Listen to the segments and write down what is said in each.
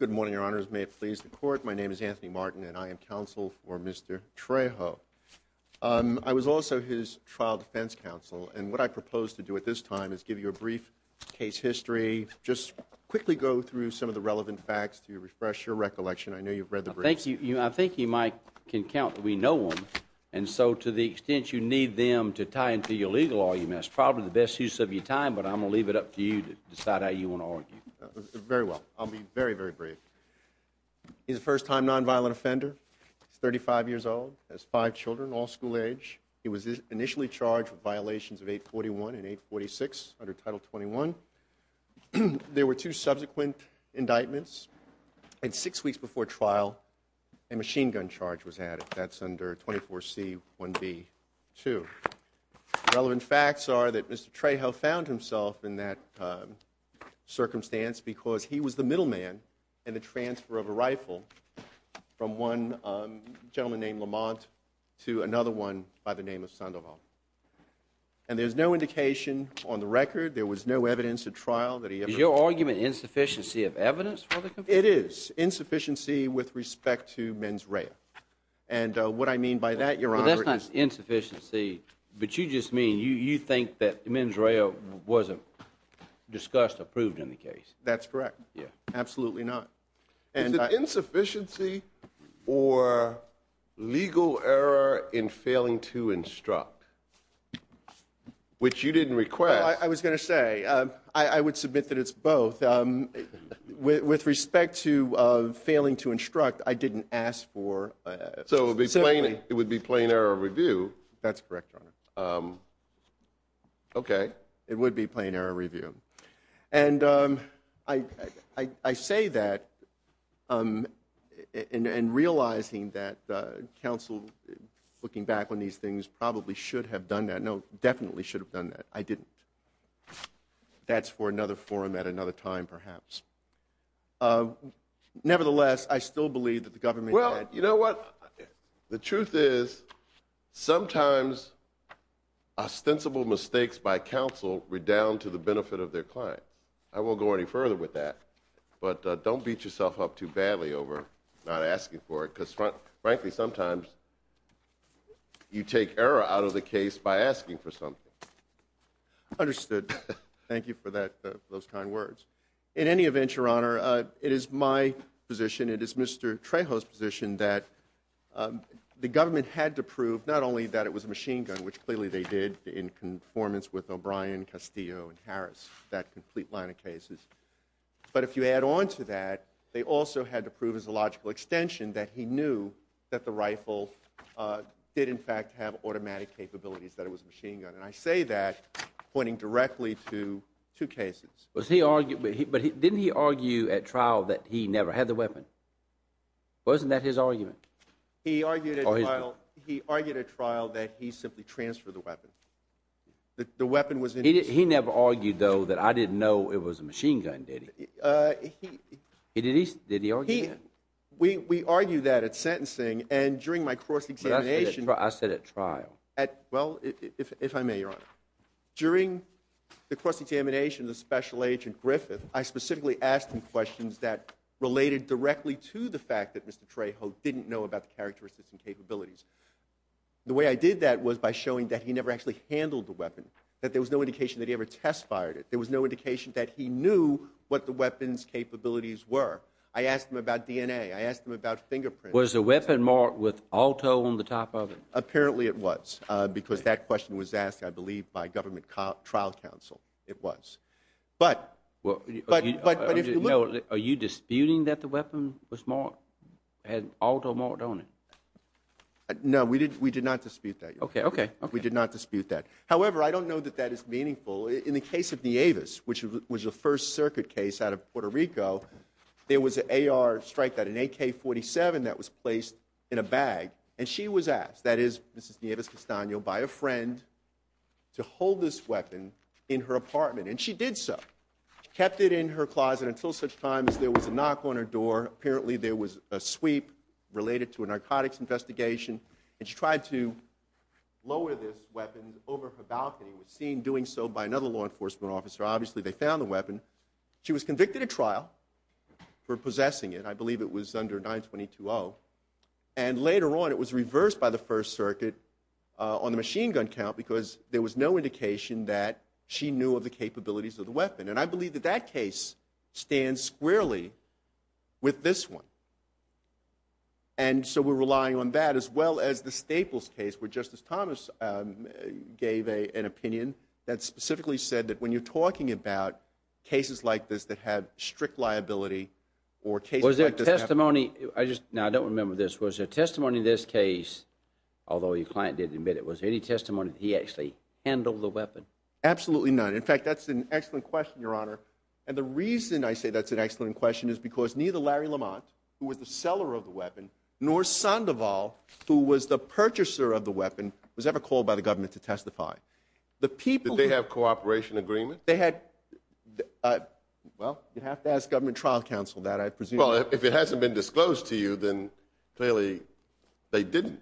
Good morning, Your Honors. May it please the Court, my name is Anthony Martin and I am counsel for Mr. Trejo. I was also his trial defense counsel and what I propose to do at this time is give you a brief case history, just quickly go through some of the relevant facts to refresh your recollection. I know you've read the briefs. I think you, Mike, can count that we know them and so to the extent you need them to tie into your legal argument, that's probably the best use of your time, but I'm going to leave it up to you to decide how you want to argue. Very well. I'll be very, very brief. He's a first-time nonviolent offender. He's 35 years old, has five children, all school age. He was initially charged with violations of 841 and 846 under Title 21. There were two subsequent indictments and six weeks before trial, a machine gun charge was added. That's under 24C1B2. The relevant facts are that Mr. Trejo found himself in that circumstance because he was the middleman in the transfer of a rifle from one gentleman named Lamont to another one by the name of Sandoval. And there's no indication on the record, there was no evidence at trial that he ever – Is your argument insufficiency of evidence for the conviction? It is. Insufficiency with respect to mens rea. And what I mean by that, Your Honor – Well, that's not insufficiency, but you just mean you think that mens rea wasn't discussed or proved in the case. That's correct. Absolutely not. Is it insufficiency or legal error in failing to instruct, which you didn't request? I was going to say, I would submit that it's both. With respect to failing to instruct, I didn't ask for – So it would be plain error of review. That's correct, Your Honor. Okay. It would be plain error of review. And I say that in realizing that counsel, looking back on these things, probably should have done that. No, definitely should have done that. I didn't. That's for another forum at another time, perhaps. Nevertheless, I still believe that the government had – Well, you know what? The truth is, sometimes ostensible mistakes by counsel redound to the benefit of their clients. I won't go any further with that. But don't beat yourself up too badly over not asking for it, because frankly, sometimes you take error out of the case by asking for something. Understood. Thank you for those kind words. In any event, Your Honor, it is my position, it is Mr. Trejo's position, that the government had to prove not only that it was a machine gun, which clearly they did in conformance with O'Brien, Castillo, and Harris, that But if you add on to that, they also had to prove as a logical extension that he knew that the rifle did, in fact, have automatic capabilities, that it was a machine gun. And I say that pointing directly to two cases. But didn't he argue at trial that he never had the weapon? Wasn't that his argument? He argued at trial that he simply transferred the weapon. The weapon was – He never argued, though, that I didn't know it was a machine gun, did he? Did he argue that? We argue that at sentencing, and during my cross-examination – I said at trial. Well, if I may, Your Honor. During the cross-examination of the Special Agent Griffith, I specifically asked him questions that related directly to the fact that Mr. Trejo didn't know about the characteristics and capabilities. The way I did that was by showing that he never actually handled the weapon, that there was no indication that he ever test-fired it. There was no indication that he knew what the weapon's capabilities were. I asked him about DNA. I asked him about fingerprints. Was the weapon marked with auto on the top of it? Apparently it was, because that question was asked, I believe, by government trial counsel. It was. But – Are you disputing that the weapon was marked – had auto marked on it? No, we did not dispute that, Your Honor. Okay, okay. We did not dispute that. However, I don't know that that is meaningful. In the case of Nieves, which was a First Circuit case out of Puerto Rico, there was an AR strike that – an AK-47 that was placed in a bag, and she was asked – that is, Mrs. Nieves Castano – by a friend to hold this weapon in her apartment, and she did so. She kept it in her closet until such time as there was a knock on her door. Apparently there was a sweep related to a narcotics investigation, and she tried to lower this weapon over her balcony. It was seen doing so by another law enforcement officer. Obviously, they found the weapon. She was convicted at trial for possessing it. I believe it was under 922-0. And later on, it was reversed by the First Circuit on the machine gun count, because there was no indication that she knew of the capabilities of the weapon. And I believe that that case stands squarely with this one. And so we're relying on that, as well as the Staples case, where Justice Thomas gave an opinion that specifically said that when you're talking about cases like this that have strict liability or cases like this have – Was there testimony – I just – no, I don't remember this. Was there testimony in this case, although your client didn't admit it, was there any testimony that he actually handled the weapon? Absolutely none. In fact, that's an excellent question, Your Honor. And the reason I say that's an excellent question is because neither Larry Lamont, who was the seller of the weapon, nor Sandoval, who was the purchaser of the weapon, was ever called by the government to testify. The people – Did they have cooperation agreements? They had – well, you'd have to ask government trial counsel that, I presume. Well, if it hasn't been disclosed to you, then clearly they didn't,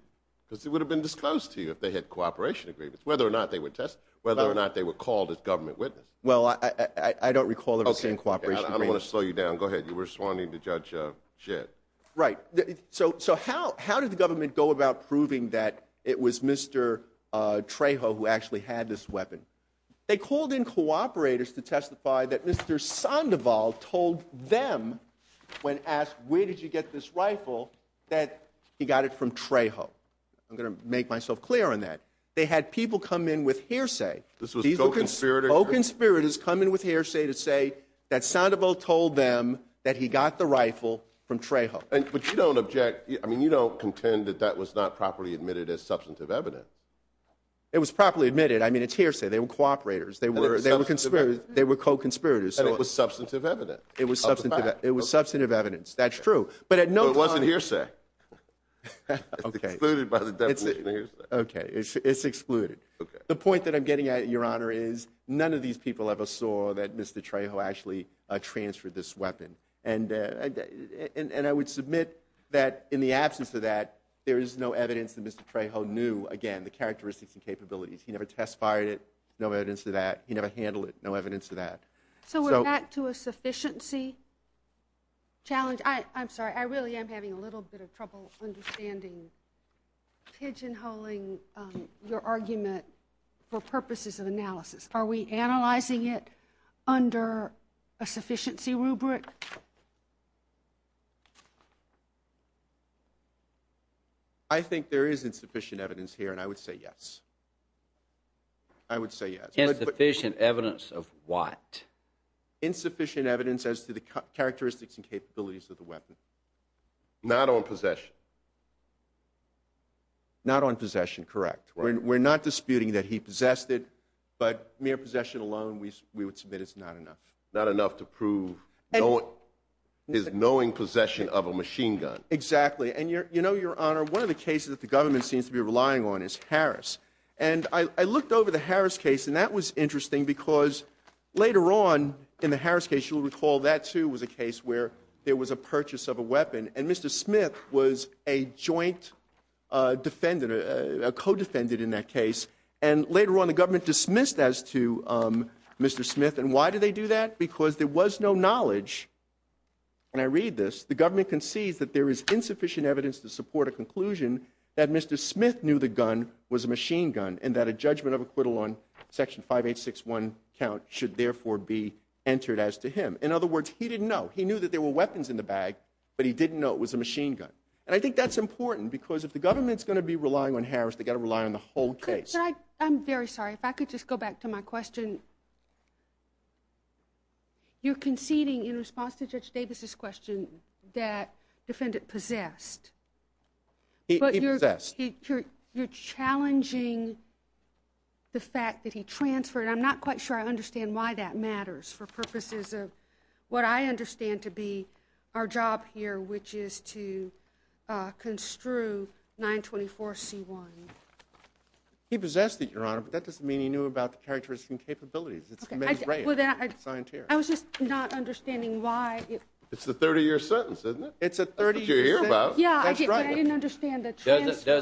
because it would have been disclosed to you if they had cooperation agreements, whether or not they were – whether or not they were called as government witnesses. Well, I don't recall ever seeing cooperation agreements. Okay. I don't want to slow you down. Go ahead. You were responding to Judge Shedd. Right. So how did the government go about proving that it was Mr. Trejo who actually had this weapon? They called in cooperators to testify that Mr. Sandoval told them, when asked, where did you get this rifle, that he got it from Trejo. I'm going to make myself clear on that. They had people come in with hearsay. This was co-conspirators? Co-conspirators come in with hearsay to say that Sandoval told them that he got the rifle from Trejo. But you don't object – I mean, you don't contend that that was not properly admitted as substantive evidence. It was properly admitted. I mean, it's hearsay. They were cooperators. They were co-conspirators. And it was substantive evidence. It was substantive evidence. That's true. But at no time – Okay. It's excluded. The point that I'm getting at, Your Honor, is none of these people ever saw that Mr. Trejo actually transferred this weapon. And I would submit that in the absence of that, there is no evidence that Mr. Trejo knew, again, the characteristics and capabilities. He never testified it. No evidence of that. He never handled it. No evidence of that. So we're back to a sufficiency challenge? I'm sorry. I really am having a little bit of trouble understanding – pigeonholing your argument for purposes of analysis. Are we analyzing it under a sufficiency rubric? I think there is insufficient evidence here, and I would say yes. I would say yes. Insufficient evidence of what? Insufficient evidence as to the characteristics and capabilities of the weapon. Not on possession? Not on possession, correct. We're not disputing that he possessed it, but mere possession alone, we would submit it's not enough. Not enough to prove his knowing possession of a machine gun? Exactly. And you know, Your Honor, one of the cases that the government seems to be relying on is Harris. And I looked over the Harris case, and that was interesting because later on in the Harris case, you'll recall that too was a case where there was a purchase of a weapon, and Mr. Smith was a joint defendant, a co-defendant in that case. And later on the government dismissed that as to Mr. Smith. And why did they do that? Because there was no knowledge, and I read this, the government concedes that there is insufficient evidence to support a conclusion that Mr. Smith knew the gun was a machine gun, and that a judgment of acquittal on Section 5861 count should therefore be entered as to him. In other words, he didn't know. He knew that there were weapons in the bag, but he didn't know it was a machine gun. And I think that's important because if the government's going to be relying on Harris, they've got to rely on the whole case. Could I, I'm very sorry, if I could just go back to my question. You're conceding in response to Judge Davis' question that defendant possessed. He possessed. You're challenging the fact that he transferred. I'm not quite sure I understand why that matters for purposes of what I understand to be our job here, which is to construe 924C1. He possessed it, Your Honor, but that doesn't mean he knew about the characteristics and capabilities. It's the men's race. It's the scientia. I was just not understanding why. It's the 30-year sentence, isn't it? It's a 30-year sentence. That's what you're here about. Yeah, but I didn't understand the transfer.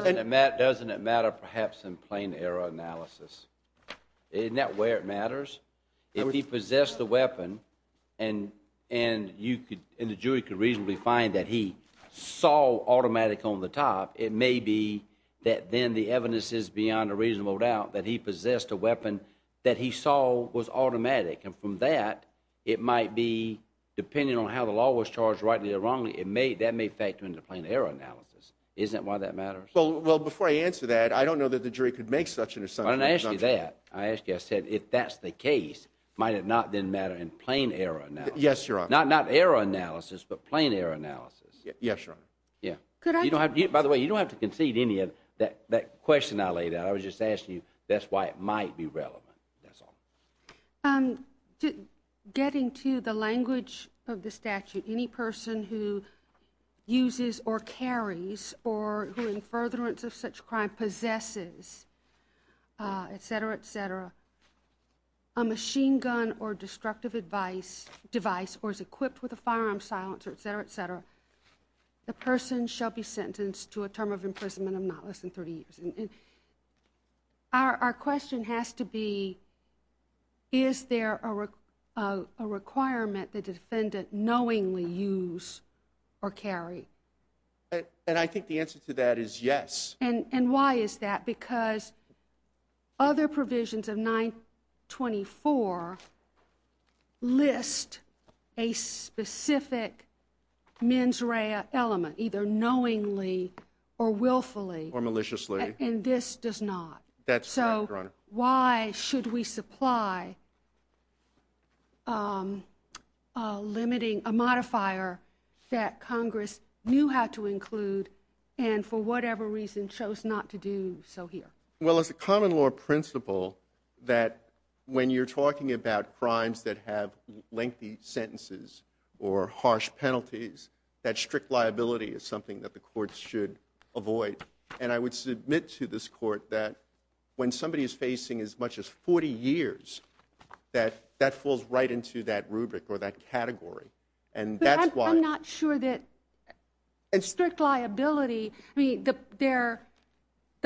Doesn't it matter, perhaps, in plain error analysis? Isn't that where it matters? If he possessed the weapon and the jury could reasonably find that he saw automatic on the top, it may be that then the evidence is beyond a reasonable doubt that he possessed a weapon that he saw was automatic. And from that, it might be, depending on how the law was isn't why that matters? Well, before I answer that, I don't know that the jury could make such an assumption. When I asked you that, I asked you, I said, if that's the case, might it not then matter in plain error analysis? Yes, Your Honor. Not error analysis, but plain error analysis. Yes, Your Honor. Yeah. By the way, you don't have to concede any of that question I laid out. I was just asking you, that's why it might be relevant. That's all. Getting to the language of the statute, any person who uses or carries or who in furtherance of such crime possesses, etc., etc., a machine gun or destructive device or is equipped with a firearm silencer, etc., etc., the person shall be sentenced to a term of imprisonment of not less than 30 years. And our question has to be, is there a requirement the defendant knowingly use or carry? And I think the answer to that is yes. And why is that? Because other provisions of 924 list a specific mens rea element, either knowingly or willfully. Or maliciously. And this does not. That's right, Your Honor. So why should we supply limiting a modifier that Congress knew how to include and for whatever reason chose not to do so here? Well, it's a common law principle that when you're talking about crimes that have lengthy sentences or harsh penalties, that strict liability is something that the courts should avoid. And I would submit to this court that when somebody is facing as much as 40 years, that falls right into that rubric or that category. But I'm not sure that strict liability, I mean, the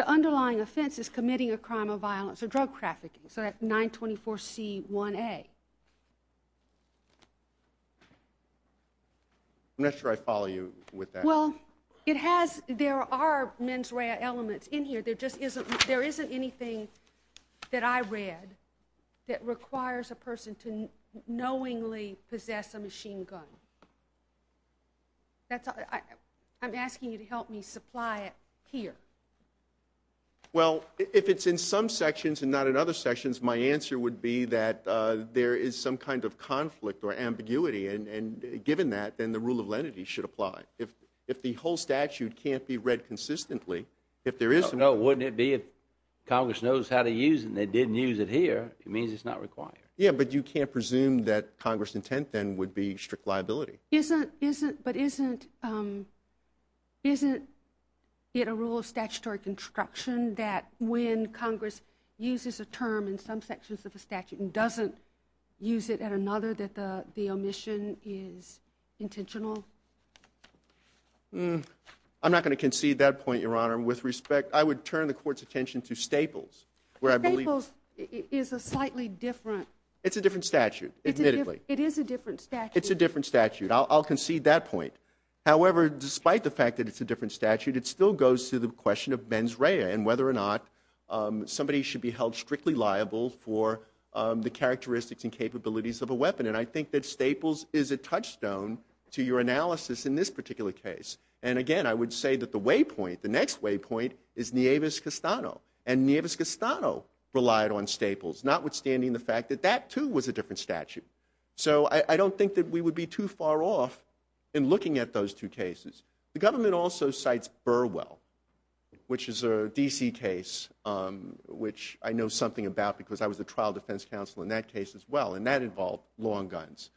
underlying offense is committing a crime of violence or drug trafficking. So that 924C1A. I'm not sure I follow you with that. Well, it has, there are mens rea elements in here. There just isn't, there isn't anything that I read that requires a person to knowingly possess a machine gun. That's, I'm asking you to help me supply it here. Well, if it's in some sections and not in other sections, my answer would be that there is some kind of conflict or ambiguity. And given that, then the rule of lenity should apply. If the whole statute can't be read consistently, if there is some... No, wouldn't it be if Congress knows how to use it and they didn't use it here, it means it's not required. Yeah, but you can't presume that Congress' intent then would be strict liability. Isn't, isn't, but isn't, isn't it a rule of statutory construction that when Congress uses a term in some sections of the statute and doesn't use it at another that the omission is intentional? I'm not going to concede that point, Your Honor. With respect, I would turn the Court's attention to Staples, where I believe... Staples is a slightly different... It's a different statute, admittedly. It is a different statute. It's a different statute. I'll concede that point. However, despite the fact that it's a different statute, it still goes to the question of mens rea and whether or not somebody should be held strictly liable for the characteristics and capabilities of a weapon. And I think that Staples is a touchstone to your analysis in this particular case. And again, I would say that the waypoint, the next waypoint, is Nieves-Castano. And Nieves-Castano relied on Staples, notwithstanding the fact that that too was a different statute. So I don't think that we would be too far off in looking at those two cases. The government also cites Burwell, which is a D.C. case, which I know something about because I was a trial defense counsel in that case as well, and that involved long guns.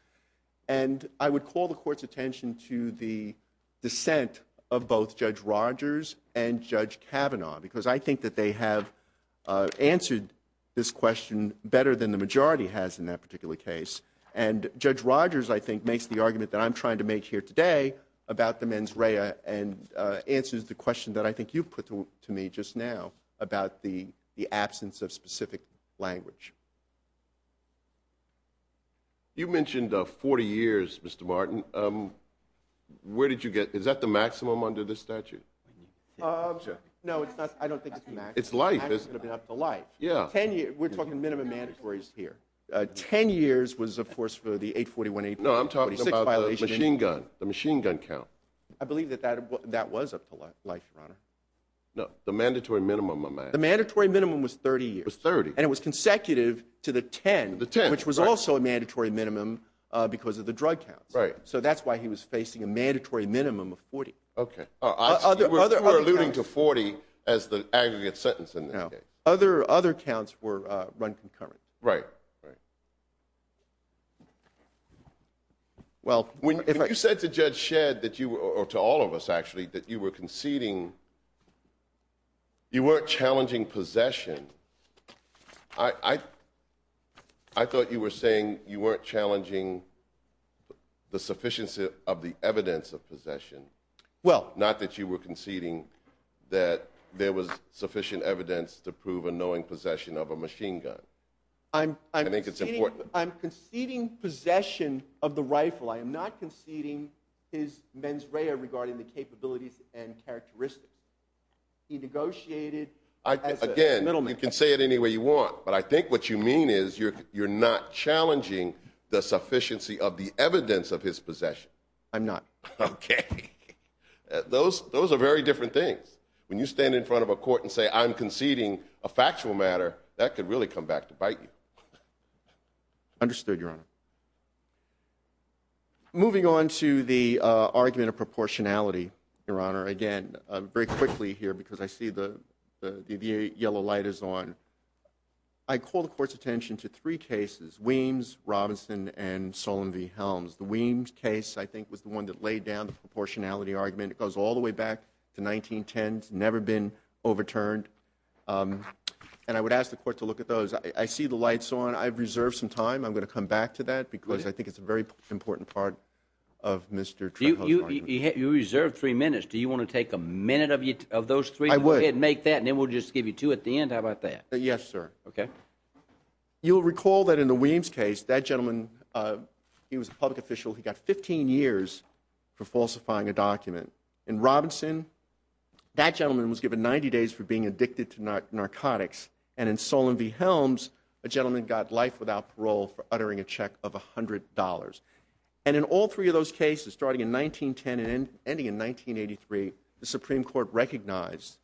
And I would call the Court's attention to the dissent of both Judge Rogers and Judge Kavanaugh, because I think that they have answered this question better than the majority has in that particular case. And Judge Rogers, I think, makes the argument that I'm trying to make here today about the mens rea and answers the question that I think you put to me just now about the absence of specific language. You mentioned 40 years, Mr. Martin. Where did you get – is that the maximum under this statute? No, it's not. I don't think it's the maximum. It's life. We're talking minimum mandatories here. Ten years was, of course, for the 841A. No, I'm talking about the machine gun count. I believe that that was up to life, Your Honor. No, the mandatory minimum amount. The mandatory minimum was 30 years. It was 30. And it was consecutive to the 10, which was also a mandatory minimum because of the drug counts. So that's why he was facing a mandatory minimum of 40. Okay. We're alluding to 40 as the aggregate sentence in this case. No. Other counts were run concurrent. Right. Right. When you said to Judge Shedd, or to all of us, actually, that you were conceding, you weren't challenging possession. I thought you were saying you weren't challenging the sufficiency of the evidence of possession. Well. Not that you were conceding that there was sufficient evidence to prove a knowing possession of a machine gun. I'm conceding possession of the rifle. I am not conceding his mens rea regarding the capabilities and characteristics. He negotiated as a middleman. Again, you can say it any way you want, but I think what you mean is you're not challenging the sufficiency of the evidence of his possession. I'm not. Okay. Those are very different things. When you stand in front of a court and say, I'm conceding a factual matter, that could really come back to bite you. Understood, Your Honor. Moving on to the argument of proportionality, Your Honor. Again, very quickly here because I see the yellow light is on. I call the Court's attention to three cases, Weems, Robinson, and Solon v. Helms. The Weems case, I think, was the one that laid down the proportionality argument. It goes all the way back to 1910. It's never been overturned. And I would ask the Court to look at those. I see the lights on. I've reserved some time. I'm going to come back to that because I think it's a very important part of Mr. Trenthope's argument. You reserved three minutes. Do you want to take a minute of those three? I would. Go ahead and make that, and then we'll just give you two at the end. How about that? Yes, sir. Okay. You'll recall that in the Weems case, that gentleman, he was a public official. He got 15 years for falsifying a document. In Robinson, that gentleman was given 90 days for being addicted to narcotics. And in Solon v. Helms, a gentleman got life without parole for uttering a check of $100. And in all three of those cases, starting in 1910 and ending in 1983, the Supreme Court recognized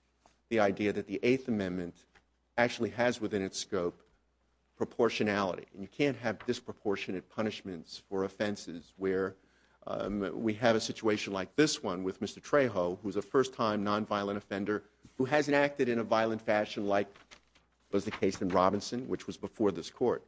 the idea that the Eighth Amendment actually has within its scope proportionality. And you can't have disproportionate punishments for offenses where we have a situation like this one with Mr. Trejo, who's a first-time nonviolent offender who hasn't acted in a violent fashion like was the case in Robinson, which was before this Court.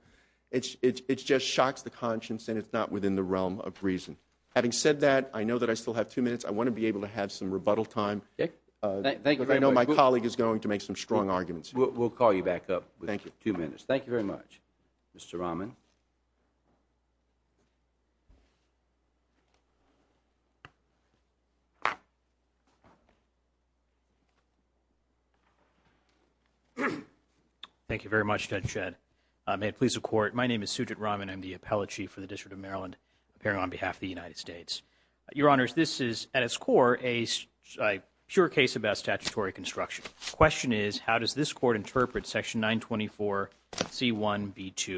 It just shocks the conscience, and it's not within the realm of reason. Having said that, I know that I still have two minutes. I want to be able to have some rebuttal time. Okay. Thank you very much. Because I know my colleague is going to make some strong arguments. We'll call you back up with two minutes. Thank you very much, Mr. Rahman. Thank you very much, Judge Shedd. May it please the Court, my name is Sujit Rahman. I'm the Appellate Chief for the District of Maryland, appearing on behalf of the United States. Your Honors, this is, at its core, a pure case about statutory construction. The question is, how does this Court interpret Section 924C1B2?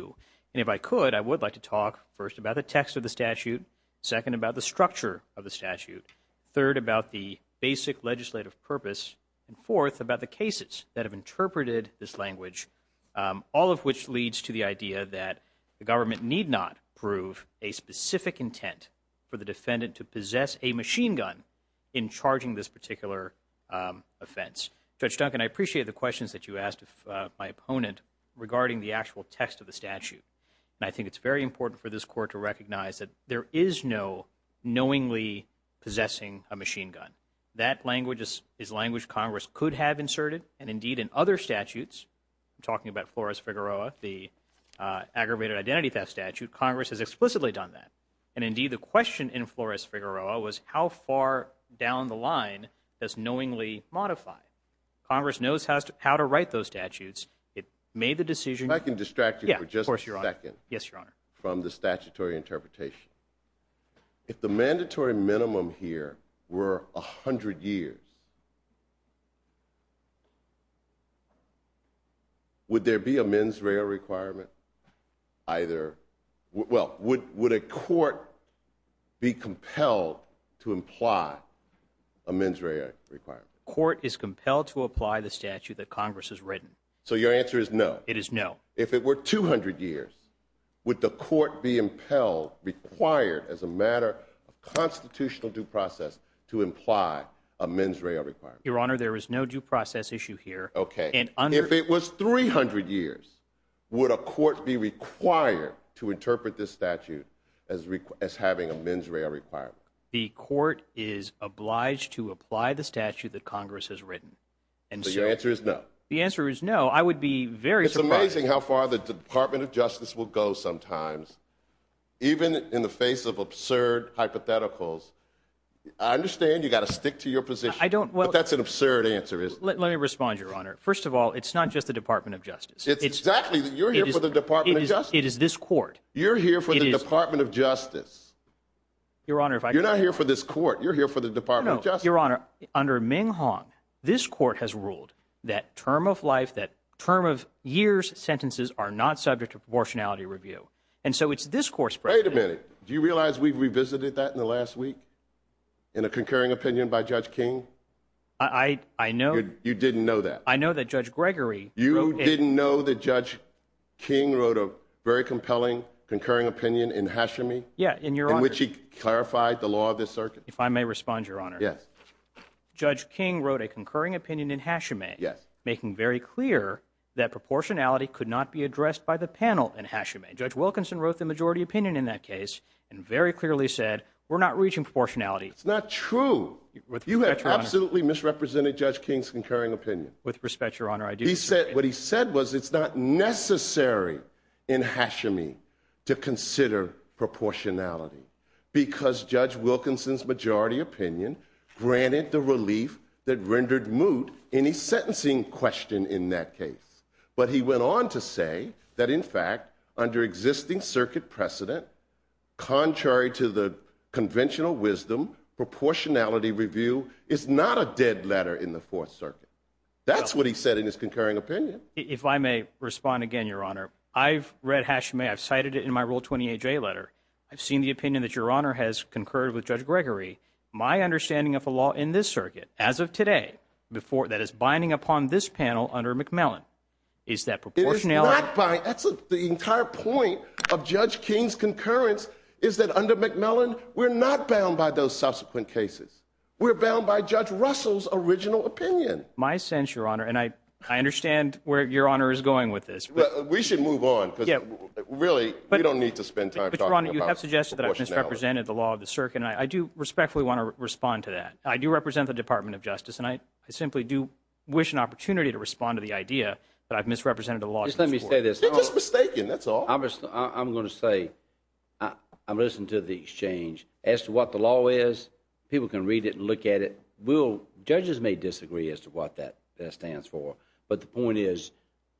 And if I could, I would like to talk, first, about the text of the statute, second, about the structure of the statute, third, about the basic legislative purpose, and fourth, about the cases that have interpreted this language, all of which leads to the idea that the government need not prove a specific intent for the defendant to possess a machine gun in charging this particular offense. Judge Duncan, I appreciate the questions that you asked my opponent regarding the actual text of the statute, and I think it's very important for this Court to recognize that there is no knowingly possessing a machine gun. That language is language Congress could have inserted, and indeed, in other statutes, talking about Flores-Figueroa, the aggravated identity theft statute, Congress has explicitly done that. And indeed, the question in Flores-Figueroa was, how far down the line does knowingly modify? Congress knows how to write those statutes. It made the decision. If I can distract you for just a second from the statutory interpretation. If the mandatory minimum here were 100 years, would there be a mens rea requirement? Either, well, would a court be compelled to imply a mens rea requirement? Court is compelled to apply the statute that Congress has written. So your answer is no? It is no. If it were 200 years, would the court be impelled, required as a matter of constitutional due process to imply a mens rea requirement? Your Honor, there is no due process issue here. Okay. If it was 300 years, would a court be required to interpret this statute as having a mens rea requirement? The court is obliged to apply the statute that Congress has written. So your answer is no? The answer is no. I would be very surprised. It's amazing how far the Department of Justice will go sometimes, even in the face of absurd hypotheticals. I understand you've got to stick to your position. But that's an absurd answer, isn't it? Let me respond, Your Honor. First of all, it's not just the Department of Justice. It's exactly. You're here for the Department of Justice. It is this court. You're here for the Department of Justice. You're not here for this court. You're here for the Department of Justice. Your Honor, under Ming Hong, this court has ruled that term of life, that term of years sentences are not subject to proportionality review. And so it's this court's precedent. Wait a minute. Do you realize we've revisited that in the last week in a concurring opinion by Judge King? I know. You didn't know that? I know that Judge Gregory wrote it. You didn't know that Judge King wrote a very compelling, concurring opinion in Hashimi? Yeah, in your honor. In which he clarified the law of the circuit? If I may respond, Your Honor. Yes. Judge King wrote a concurring opinion in Hashimi. Yes. Making very clear that proportionality could not be addressed by the panel in Hashimi. Judge Wilkinson wrote the majority opinion in that case and very clearly said, we're not reaching proportionality. It's not true. With respect, Your Honor. You have absolutely misrepresented Judge King's concurring opinion. With respect, Your Honor, I do. He said, what he said was it's not necessary in Hashimi to consider proportionality because Judge Wilkinson's majority opinion granted the relief that rendered moot any sentencing question in that case. But he went on to say that, in fact, under existing circuit precedent, contrary to the conventional wisdom, proportionality review is not a dead letter in the Fourth Circuit. That's what he said in his concurring opinion. If I may respond again, Your Honor. I've read Hashimi. I've cited it in my Rule 28J letter. I've seen the opinion that Your Honor has concurred with Judge Gregory. My understanding of the law in this circuit, as of today, that is binding upon this panel under McMillan, is that proportionality- It is not binding. That's the entire point of Judge King's concurrence, is that under McMillan, we're not bound by those subsequent cases. We're bound by Judge Russell's original opinion. My sense, Your Honor, and I understand where Your Honor is going with this. We should move on because, really, we don't need to spend time talking. Your Honor, you have suggested that I've misrepresented the law of the circuit, and I do respectfully want to respond to that. I do represent the Department of Justice, and I simply do wish an opportunity to respond to the idea that I've misrepresented the law of the circuit. Just let me say this. You're just mistaken. That's all. I'm going to say, I listened to the exchange. As to what the law is, people can read it and look at it. Judges may disagree as to what that stands for, but the point is,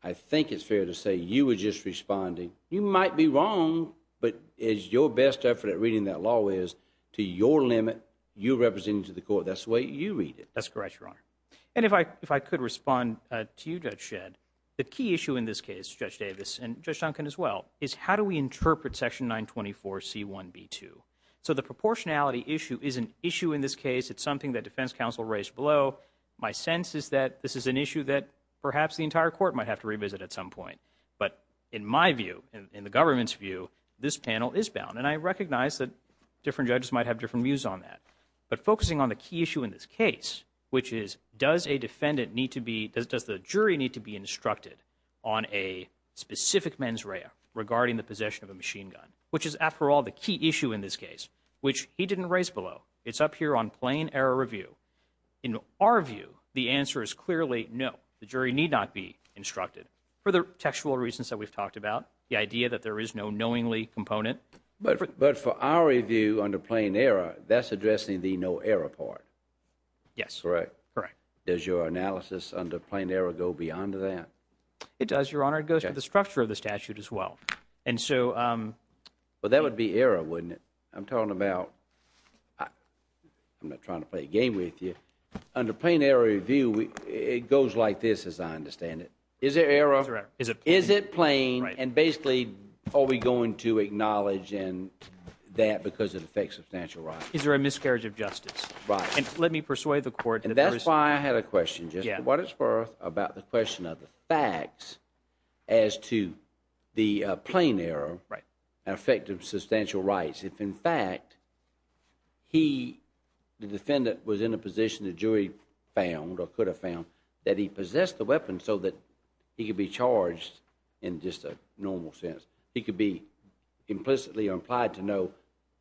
I think it's fair to say you were just responding. You might be wrong, but as your best effort at reading that law is, to your limit, you're representing to the court. That's the way you read it. That's correct, Your Honor. And if I could respond to you, Judge Shedd, the key issue in this case, Judge Davis and Judge Duncan as well, is how do we interpret Section 924C1B2? So the proportionality issue is an issue in this case. It's something that defense counsel raised below. My sense is that this is an issue that perhaps the entire court might have to revisit at some point. But in my view, in the government's view, this panel is bound. And I recognize that different judges might have different views on that. But focusing on the key issue in this case, which is, does a defendant need to be – does the jury need to be instructed on a specific mens rea regarding the possession of a machine gun, which is, after all, the key issue in this case, which he didn't raise below. It's up here on plain error review. In our view, the answer is clearly no. The jury need not be instructed. For the textual reasons that we've talked about, the idea that there is no knowingly component – But for our review under plain error, that's addressing the no error part. Yes. Correct. Correct. Does your analysis under plain error go beyond that? It does, Your Honor. It goes to the structure of the statute as well. And so – But that would be error, wouldn't it? I'm talking about – I'm not trying to play a game with you. Under plain error review, it goes like this, as I understand it. Is there error? Is it plain? Is it plain? And basically, are we going to acknowledge that because it affects substantial rights? Is there a miscarriage of justice? Right. And let me persuade the court – And that's why I had a question, just for what it's worth, about the question of the facts as to the plain error and effect of substantial rights. If, in fact, he, the defendant, was in a position the jury found or could have found that he could be charged in just a normal sense, he could be implicitly or implied to know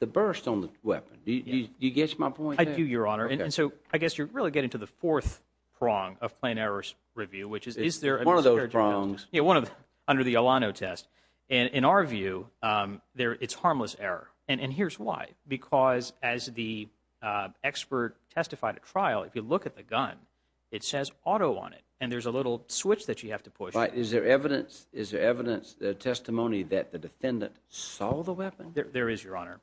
the burst on the weapon. Do you get my point there? I do, Your Honor. Okay. And so I guess you're really getting to the fourth prong of plain error review, which is, is there a miscarriage of justice? One of those prongs. Yeah, one of – under the Alano test. And in our view, it's harmless error. And here's why. Because as the expert testified at trial, if you look at the gun, it says auto on it. And there's a little switch that you have to push. Right. Is there evidence, is there evidence, testimony that the defendant saw the weapon? There is, Your Honor.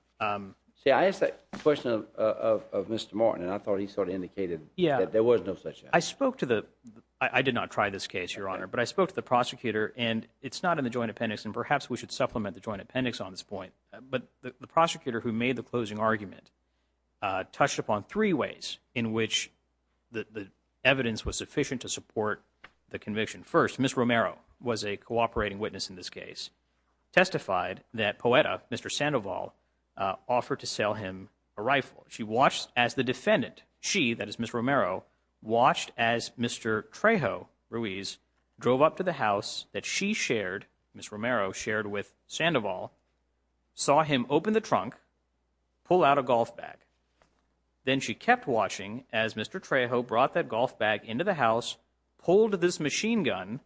See, I asked that question of Mr. Martin, and I thought he sort of indicated that there was no such evidence. I spoke to the – I did not try this case, Your Honor. Okay. But I spoke to the prosecutor, and it's not in the joint appendix, and perhaps we should supplement the joint appendix on this point. But the prosecutor who made the closing argument touched upon three ways in which the evidence was sufficient to support the conviction. First, Ms. Romero was a cooperating witness in this case, testified that Poeta, Mr. Sandoval, offered to sell him a rifle. She watched as the defendant – she, that is, Ms. Romero – watched as Mr. Trejo Ruiz drove up to the house that she shared, Ms. Romero shared with Sandoval, saw him open the trunk, pull out a golf bag. Then she kept watching as Mr. Trejo brought that golf bag into the house, pulled this machine gun,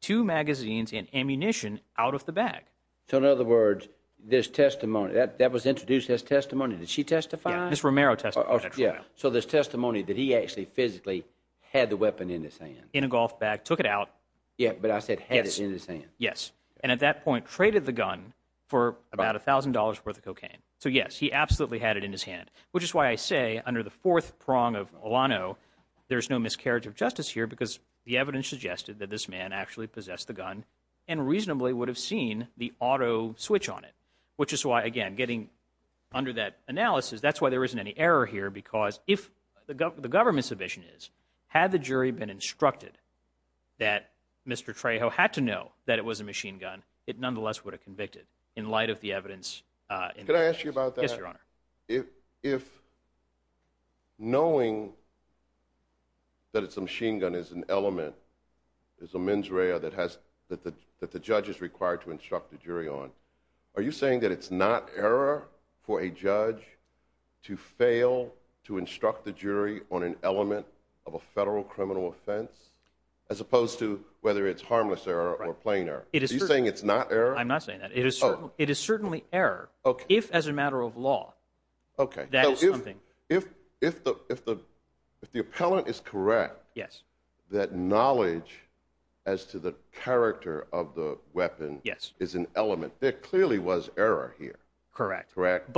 two magazines, and ammunition out of the bag. So in other words, this testimony – that was introduced as testimony. Did she testify? Ms. Romero testified at trial. Oh, yeah. So there's testimony that he actually physically had the weapon in his hand. In a golf bag, took it out. Yeah, but I said had it in his hand. And at that point, traded the gun for about $1,000 worth of cocaine. So yes, he absolutely had it in his hand. Which is why I say, under the fourth prong of Olano, there's no miscarriage of justice here because the evidence suggested that this man actually possessed the gun and reasonably would have seen the auto switch on it. Which is why, again, getting under that analysis, that's why there isn't any error here because if the government's submission is, had the jury been instructed that Mr. Trejo had to know that it was a machine gun, it nonetheless would have convicted in light of the evidence. Could I ask you about that? Yes, Your Honor. If knowing that it's a machine gun is an element, is a mens rea that the judge is required to instruct the jury on, are you saying that it's not error for a judge to fail to instruct the jury on an element of a federal criminal offense as opposed to whether it's harmless error or plain error? Are you saying it's not error? I'm not saying that. It is certainly error. If, as a matter of law, that is something. If the appellant is correct that knowledge as to the character of the weapon is an element, there clearly was error here. Correct. Correct.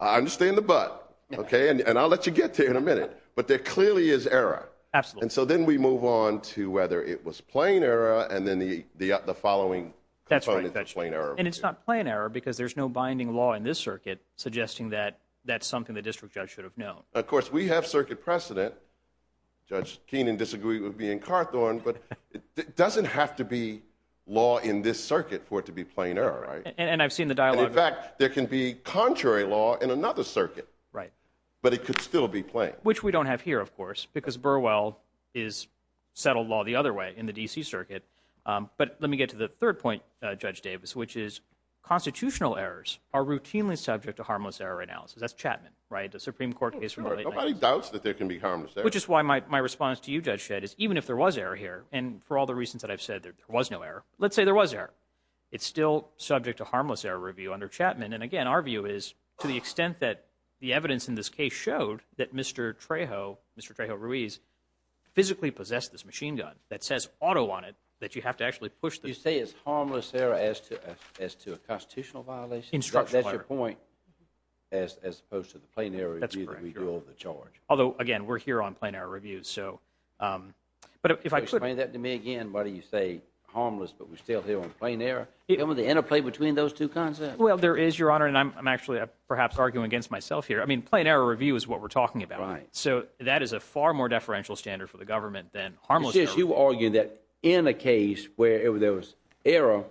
I understand the but, and I'll let you get to it in a minute, but there clearly is error. Absolutely. And so then we move on to whether it was plain error and then the following components of And it's not plain error because there's no binding law in this circuit suggesting that that's something the district judge should have known. Of course, we have circuit precedent. Judge Keenan disagreed with me in Carthorn, but it doesn't have to be law in this circuit for it to be plain error, right? And I've seen the dialogue. In fact, there can be contrary law in another circuit. Right. But it could still be plain. Which we don't have here, of course, because Burwell is settled law the other way in the D.C. Circuit. But let me get to the third point, Judge Davis, which is constitutional errors are routinely subject to harmless error analysis. That's Chapman, right? The Supreme Court case from the late 90s. Nobody doubts that there can be harmless error. Which is why my response to you, Judge Shedd, is even if there was error here, and for all the reasons that I've said, there was no error. Let's say there was error. It's still subject to harmless error review under Chapman, and again, our view is to the extent that the evidence in this case showed that Mr. Trejo, Mr. Trejo Ruiz, physically possessed this machine gun that says auto on it, that you have to actually push the You say it's harmless error as to a constitutional violation? Instructional error. That's your point, as opposed to the plain error review that we do over the charge. Although, again, we're here on plain error review, so. Explain that to me again. Why do you say harmless, but we're still here on plain error? What's the interplay between those two concepts? Well, there is, Your Honor, and I'm actually perhaps arguing against myself here. I mean, plain error review is what we're talking about. Right. So that is a far more deferential standard for the government than harmless error. You argue that in a case where there was error,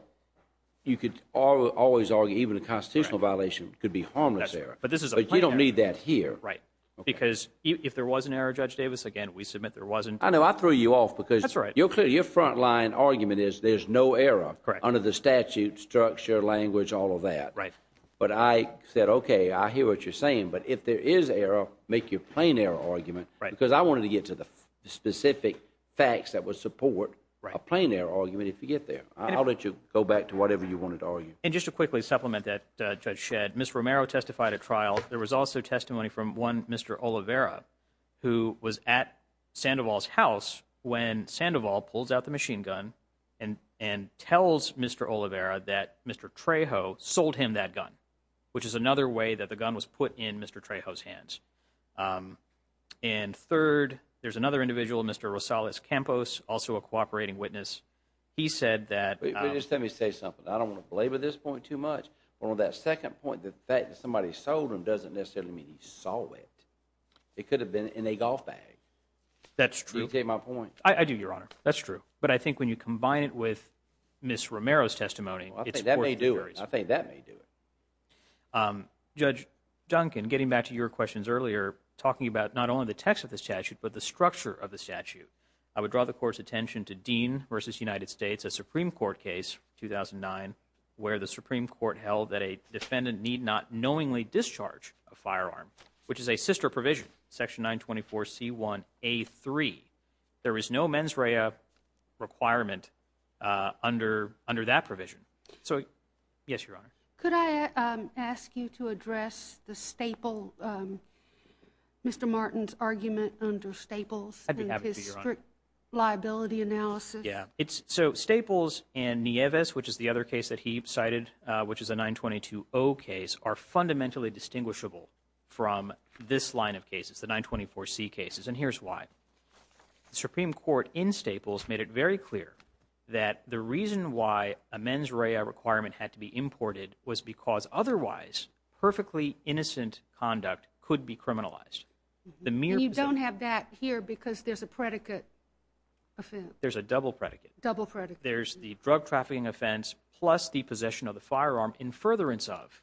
you could always argue even a constitutional violation could be harmless error. But this is a plain error. But you don't need that here. Right. Because if there was an error, Judge Davis, again, we submit there wasn't. I know. I threw you off because. That's right. You're clear. Your frontline argument is there's no error under the statute, structure, language, all of that. Right. But I said, okay, I hear what you're saying. But if there is error, make your plain error argument. Right. Because I wanted to get to the specific facts that would support a plain error argument if you get there. I'll let you go back to whatever you wanted to argue. And just to quickly supplement that, Judge Shedd, Ms. Romero testified at trial. There was also testimony from one Mr. Oliveira who was at Sandoval's house when Sandoval pulls out the machine gun and tells Mr. Oliveira that Mr. Trejo sold him that gun, which is another way that the gun was put in Mr. Trejo's hands. And third, there's another individual, Mr. Rosales Campos, also a cooperating witness. He said that. But just let me say something. I don't want to belabor this point too much. But on that second point, the fact that somebody sold him doesn't necessarily mean he saw it. It could have been in a golf bag. That's true. Do you take my point? I do, Your Honor. That's true. But I think when you combine it with Ms. Romero's testimony, it's of course very similar. I think that may do it. I think that may do it. Judge Duncan, getting back to your questions earlier, talking about not only the text of the statute, but the structure of the statute, I would draw the Court's attention to Dean v. United States, a Supreme Court case, 2009, where the Supreme Court held that a defendant need not knowingly discharge a firearm, which is a sister provision, Section 924C1A3. There is no mens rea requirement under that provision. So, yes, Your Honor. Could I ask you to address the Staple, Mr. Martin's argument under Staples and his strict liability analysis? Yes. So Staples and Nieves, which is the other case that he cited, which is a 922O case, are fundamentally distinguishable from this line of cases, the 924C cases. And here's why. The Supreme Court in Staples made it very clear that the reason why a mens rea requirement had to be imported was because otherwise perfectly innocent conduct could be criminalized. And you don't have that here because there's a predicate offense. There's a double predicate. Double predicate. There's the drug trafficking offense plus the possession of the firearm in furtherance of.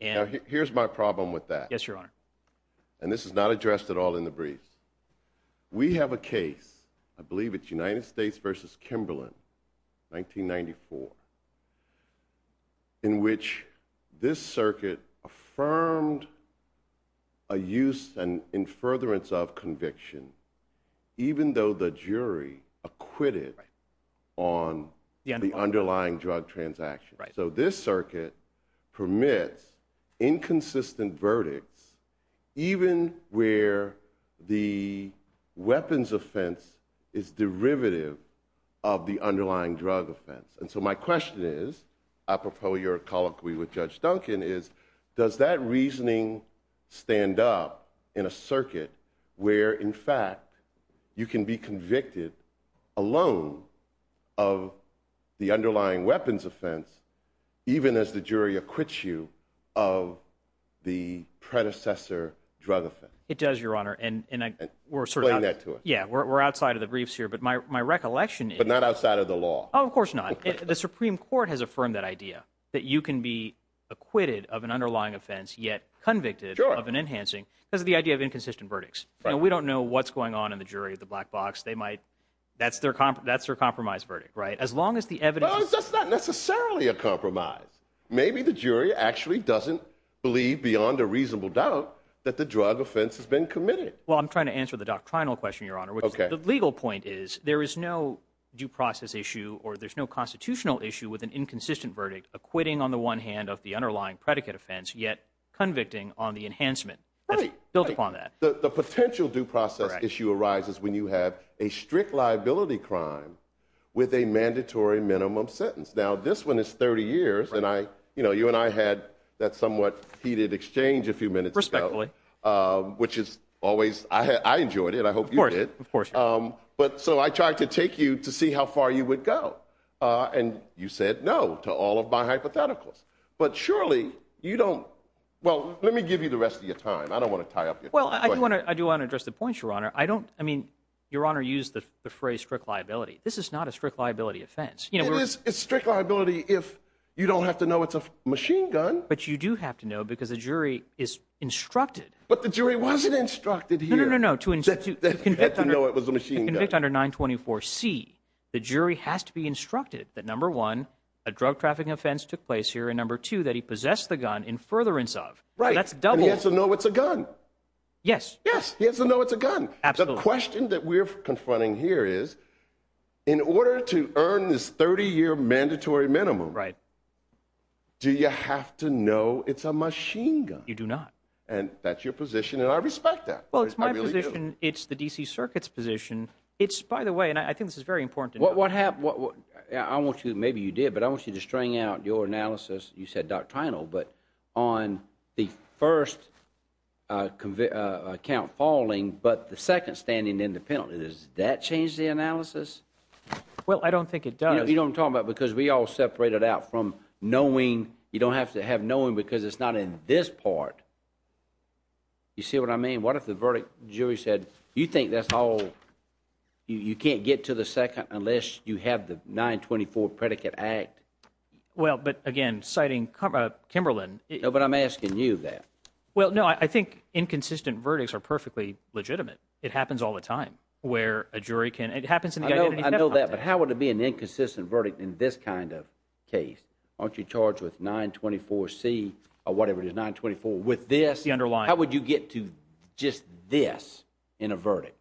Now, here's my problem with that. Yes, Your Honor. And this is not addressed at all in the briefs. We have a case, I believe it's United States v. Kimberlin, 1994, in which this circuit affirmed a use and in furtherance of conviction even though the jury acquitted on the underlying drug transaction. So this circuit permits inconsistent verdicts even where the weapons offense is derivative of the underlying drug offense. And so my question is, apropos your colloquy with Judge Duncan, is does that reasoning stand up in a circuit where, in fact, you can be convicted alone of the underlying weapons offense even as the jury acquits you of the predecessor drug offense? It does, Your Honor. Explain that to us. Yeah, we're outside of the briefs here. But my recollection is. But not outside of the law. Oh, of course not. The Supreme Court has affirmed that idea, that you can be acquitted of an underlying offense yet convicted of an enhancing because of the idea of inconsistent verdicts. We don't know what's going on in the jury of the black box. That's their compromise verdict, right? That's not necessarily a compromise. Maybe the jury actually doesn't believe beyond a reasonable doubt that the drug offense has been committed. Well, I'm trying to answer the doctrinal question, Your Honor. The legal point is there is no due process issue or there's no constitutional issue with an inconsistent verdict acquitting on the one hand of the underlying predicate offense yet convicting on the enhancement built upon that. The potential due process issue arises when you have a strict liability crime with a mandatory minimum sentence. Now, this one is 30 years. And you and I had that somewhat heated exchange a few minutes ago. Respectfully. Which is always, I enjoyed it. I hope you did. Of course. But so I tried to take you to see how far you would go. And you said no to all of my hypotheticals. But surely you don't, well, let me give you the rest of your time. I don't want to tie up your question. Well, I do want to address the point, Your Honor. I don't, I mean, Your Honor used the phrase strict liability. This is not a strict liability offense. It is strict liability if you don't have to know it's a machine gun. But you do have to know because the jury is instructed. But the jury wasn't instructed here. No, no, no. To know it was a machine gun. To convict under 924C, the jury has to be instructed that, number one, a drug trafficking offense took place here and, number two, that he possessed the gun in furtherance of. Right. So that's double. And he has to know it's a gun. Yes. Yes. He has to know it's a gun. Absolutely. And the question that we're confronting here is, in order to earn this 30-year mandatory minimum, do you have to know it's a machine gun? You do not. And that's your position, and I respect that. Well, it's my position. I really do. It's the D.C. Circuit's position. It's, by the way, and I think this is very important to know. What happened, I want you, maybe you did, but I want you to string out your analysis, but on the first count falling but the second standing independently, does that change the analysis? Well, I don't think it does. You know what I'm talking about? Because we all separate it out from knowing, you don't have to have knowing because it's not in this part. You see what I mean? What if the verdict, jury said, you think that's all, you can't get to the second unless you have the 924 predicate act? Well, but again, citing Kimberlin. No, but I'm asking you that. Well, no, I think inconsistent verdicts are perfectly legitimate. It happens all the time where a jury can, it happens in the identity theft context. I know that, but how would it be an inconsistent verdict in this kind of case? Aren't you charged with 924C or whatever it is, 924 with this? The underlying. How would you get to just this in a verdict?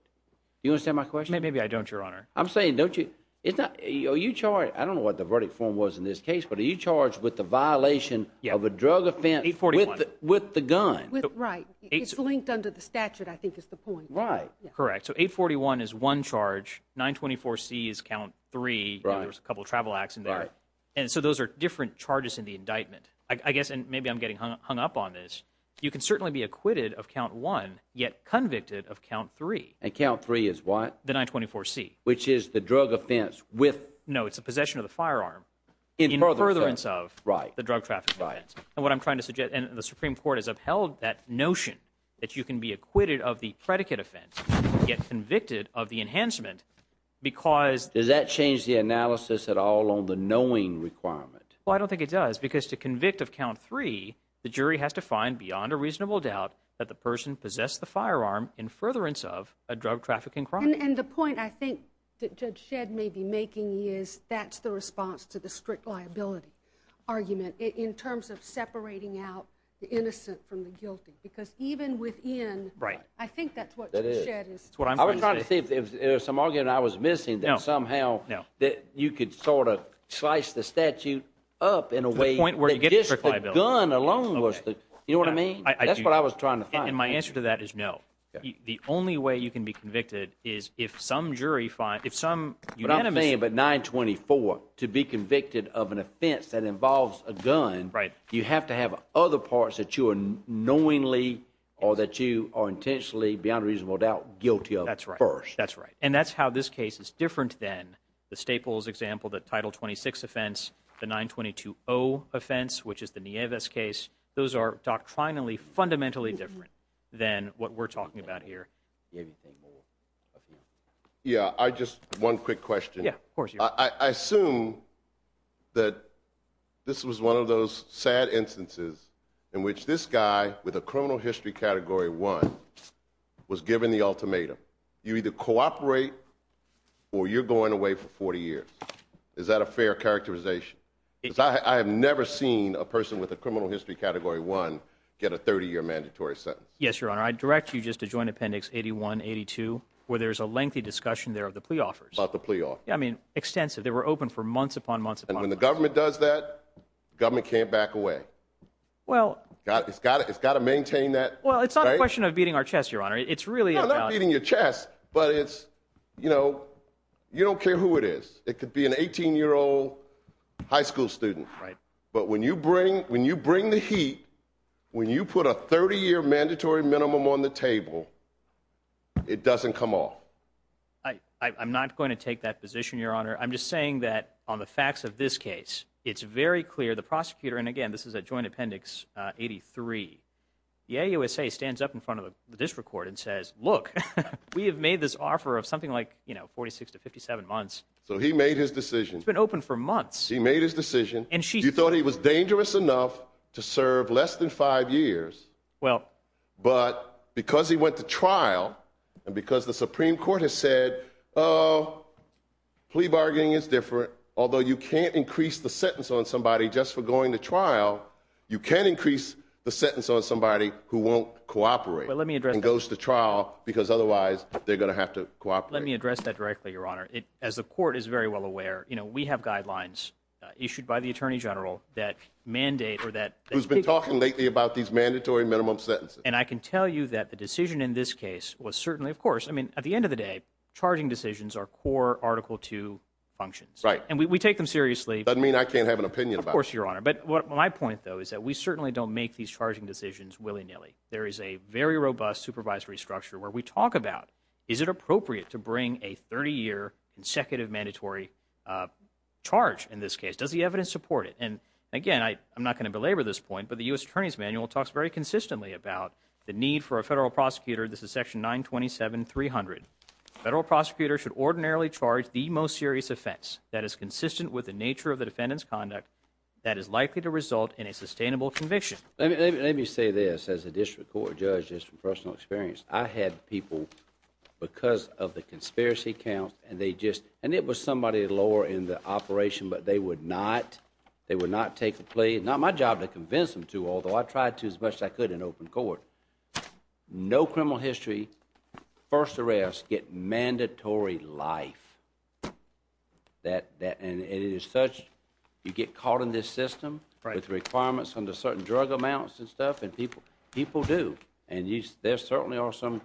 Do you understand my question? Maybe I don't, Your Honor. I'm saying, don't you, it's not, are you charged? I don't know what the verdict form was in this case, but are you charged with the violation of a drug offense with the gun? Right. It's linked under the statute, I think is the point. Right. Correct. So 841 is one charge. 924C is count three. There was a couple of travel acts in there. Right. And so those are different charges in the indictment. I guess, and maybe I'm getting hung up on this. You can certainly be acquitted of count one, yet convicted of count three. And count three is what? The 924C. Which is the drug offense with. No, it's a possession of the firearm. In furtherance of. Right. The drug trafficking offense. Right. And what I'm trying to suggest, and the Supreme Court has upheld that notion that you can be acquitted of the predicate offense, yet convicted of the enhancement because. Does that change the analysis at all on the knowing requirement? Well, I don't think it does because to convict of count three, the jury has to find beyond a reasonable doubt that the person possessed the firearm in furtherance of a drug trafficking crime. And the point I think that Judge Shedd may be making is that's the response to the strict liability argument in terms of separating out the innocent from the guilty. Because even within. Right. I think that's what Judge Shedd is. That is. That's what I'm trying to say. I was trying to see if there was some argument I was missing. No. That somehow. No. That you could sort of slice the statute up in a way. To the point where you get the strict liability. That just the gun alone was the. Okay. You know what I mean? That's what I was trying to find. And my answer to that is no. Okay. The only way you can be convicted is if some jury find if some. But I'm saying about 924 to be convicted of an offense that involves a gun. Right. You have to have other parts that you are knowingly or that you are intentionally beyond reasonable doubt guilty of. That's right. First. That's right. And that's how this case is different than the Staples example, the title 26 offense, the 922 0 offense, which is the Nieves case. Those are doctrinally fundamentally different than what we're talking about here. Do you have anything more? Yeah. I just. One quick question. Yeah. Of course. I assume that this was one of those sad instances in which this guy with a criminal history category one was given the ultimatum. You either cooperate or you're going away for 40 years. Is that a fair characterization? I have never seen a person with a criminal history category one get a 30 year mandatory sentence. Yes, your honor. I direct you just to join Appendix 81 82, where there's a lengthy discussion there of the plea offers about the plea. I mean, extensive. They were open for months upon months and when the government does that government can't back away. Well, it's got it. It's got to maintain that. Well, it's not a question of beating our chest, your honor. It's really about beating your chest. But it's you know, you don't care who it is. It could be an 18 year old high school student. Right. But when you bring when you bring the heat, when you put a 30 year mandatory minimum on the table, it doesn't come off. I'm not going to take that position, your honor. I'm just saying that on the facts of this case, it's very clear the prosecutor and again, this is a joint Appendix 83 USA stands up in front of the district court and says, look, we have made this offer of something like, you know, 46 to 57 months. So he made his decision. It's been open for months. He made his decision. And she thought he was dangerous enough to serve less than five years. Well, but because he went to trial and because the Supreme Court has said, oh, plea bargaining is different. Although you can't increase the sentence on somebody just for going to trial. You can increase the sentence on somebody who won't cooperate. Let me address the trial, because otherwise they're going to have to cooperate. Let me address that directly, your honor. As the court is very well aware, you know, we have guidelines issued by the attorney general that mandate or that has been talking lately about these mandatory minimum sentences. And I can tell you that the decision in this case was certainly, of course, I mean, at the end of the day, charging decisions are core article two functions, right? And we take them seriously. I mean, I can't have an opinion, of course, your honor. But what my point, though, is that we certainly don't make these charging decisions willy nilly. There is a very robust supervisory structure where we talk about, is it appropriate to bring a 30-year consecutive mandatory charge in this case? Does the evidence support it? And again, I'm not going to belabor this point, but the U.S. Attorney's Manual talks very consistently about the need for a federal prosecutor. This is section 927-300. Federal prosecutors should ordinarily charge the most serious offense that is consistent with the nature of the defendant's conduct that is likely to result in a sustainable conviction. Let me say this. As a district court judge, just from personal experience, I had people, because of the conspiracy counts, and they just, and it was somebody lower in the operation, but they would not, they would not take a plea. Not my job to convince them to, although I tried to as much as I could in open court. No criminal history, first arrest, get mandatory life. And it is such, you get caught in this system with requirements under certain drug amounts and stuff, and people, people do. And there certainly are some,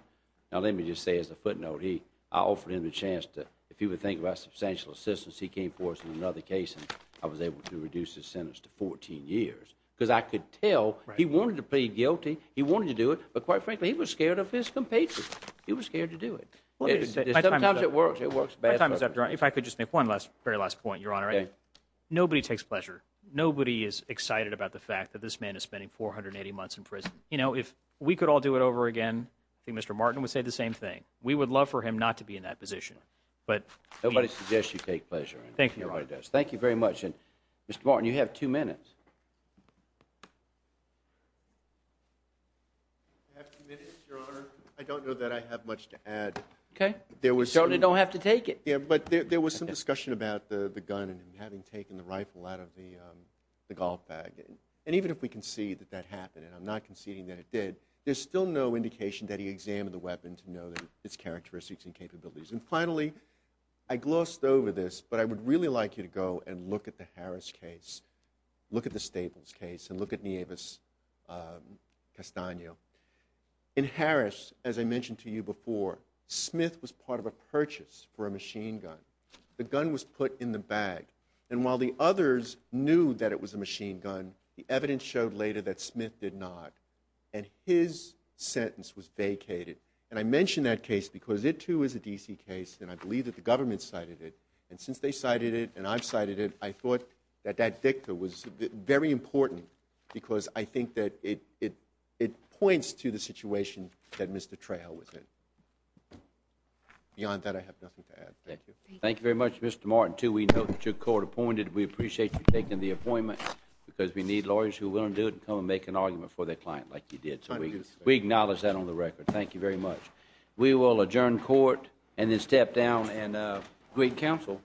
now let me just say as a footnote, I offered him a chance to, if he would think about substantial assistance, he came for it in another case, and I was able to reduce his sentence to 14 years, because I could tell he wanted to plead guilty, he wanted to do it, but quite frankly, he was scared of his compatriots. He was scared to do it. Sometimes it works. It works best. My time is up, Your Honor. If I could just make one last, very last point, Your Honor. Nobody takes pleasure. Nobody is excited about the fact that this man is spending 480 months in prison. You know, if we could all do it over again, I think Mr. Martin would say the same thing. We would love for him not to be in that position. But he is. Nobody suggests you take pleasure. Thank you, Your Honor. Nobody does. Thank you very much. And Mr. Martin, you have two minutes. I have two minutes, Your Honor. I don't know that I have much to add. Okay. You certainly don't have to take it. But there was some discussion about the gun and him having taken the rifle out of the golf bag. And even if we concede that that happened, and I'm not conceding that it did, there's still no indication that he examined the weapon to know its characteristics and capabilities. And finally, I glossed over this, but I would really like you to go and look at the Harris case, look at the Staples case, and look at Nieves Castaño. In Harris, as I mentioned to you before, Smith was part of a purchase for a machine gun. The gun was put in the bag. And while the others knew that it was a machine gun, the evidence showed later that Smith did not. And his sentence was vacated. And I mention that case because it, too, is a D.C. case, and I believe that the government cited it. And since they cited it and I've cited it, I thought that that dicta was very important because I think that it points to the situation that Mr. Trejo was in. Beyond that, I have nothing to add. Thank you. Thank you. Thank you very much, Mr. Martin, too. We know that you're court-appointed. We appreciate you taking the appointment because we need lawyers who are willing to do it and come and make an argument for their client like you did. So we acknowledge that on the record. Thank you very much. We will adjourn court and then step down and greet counsel.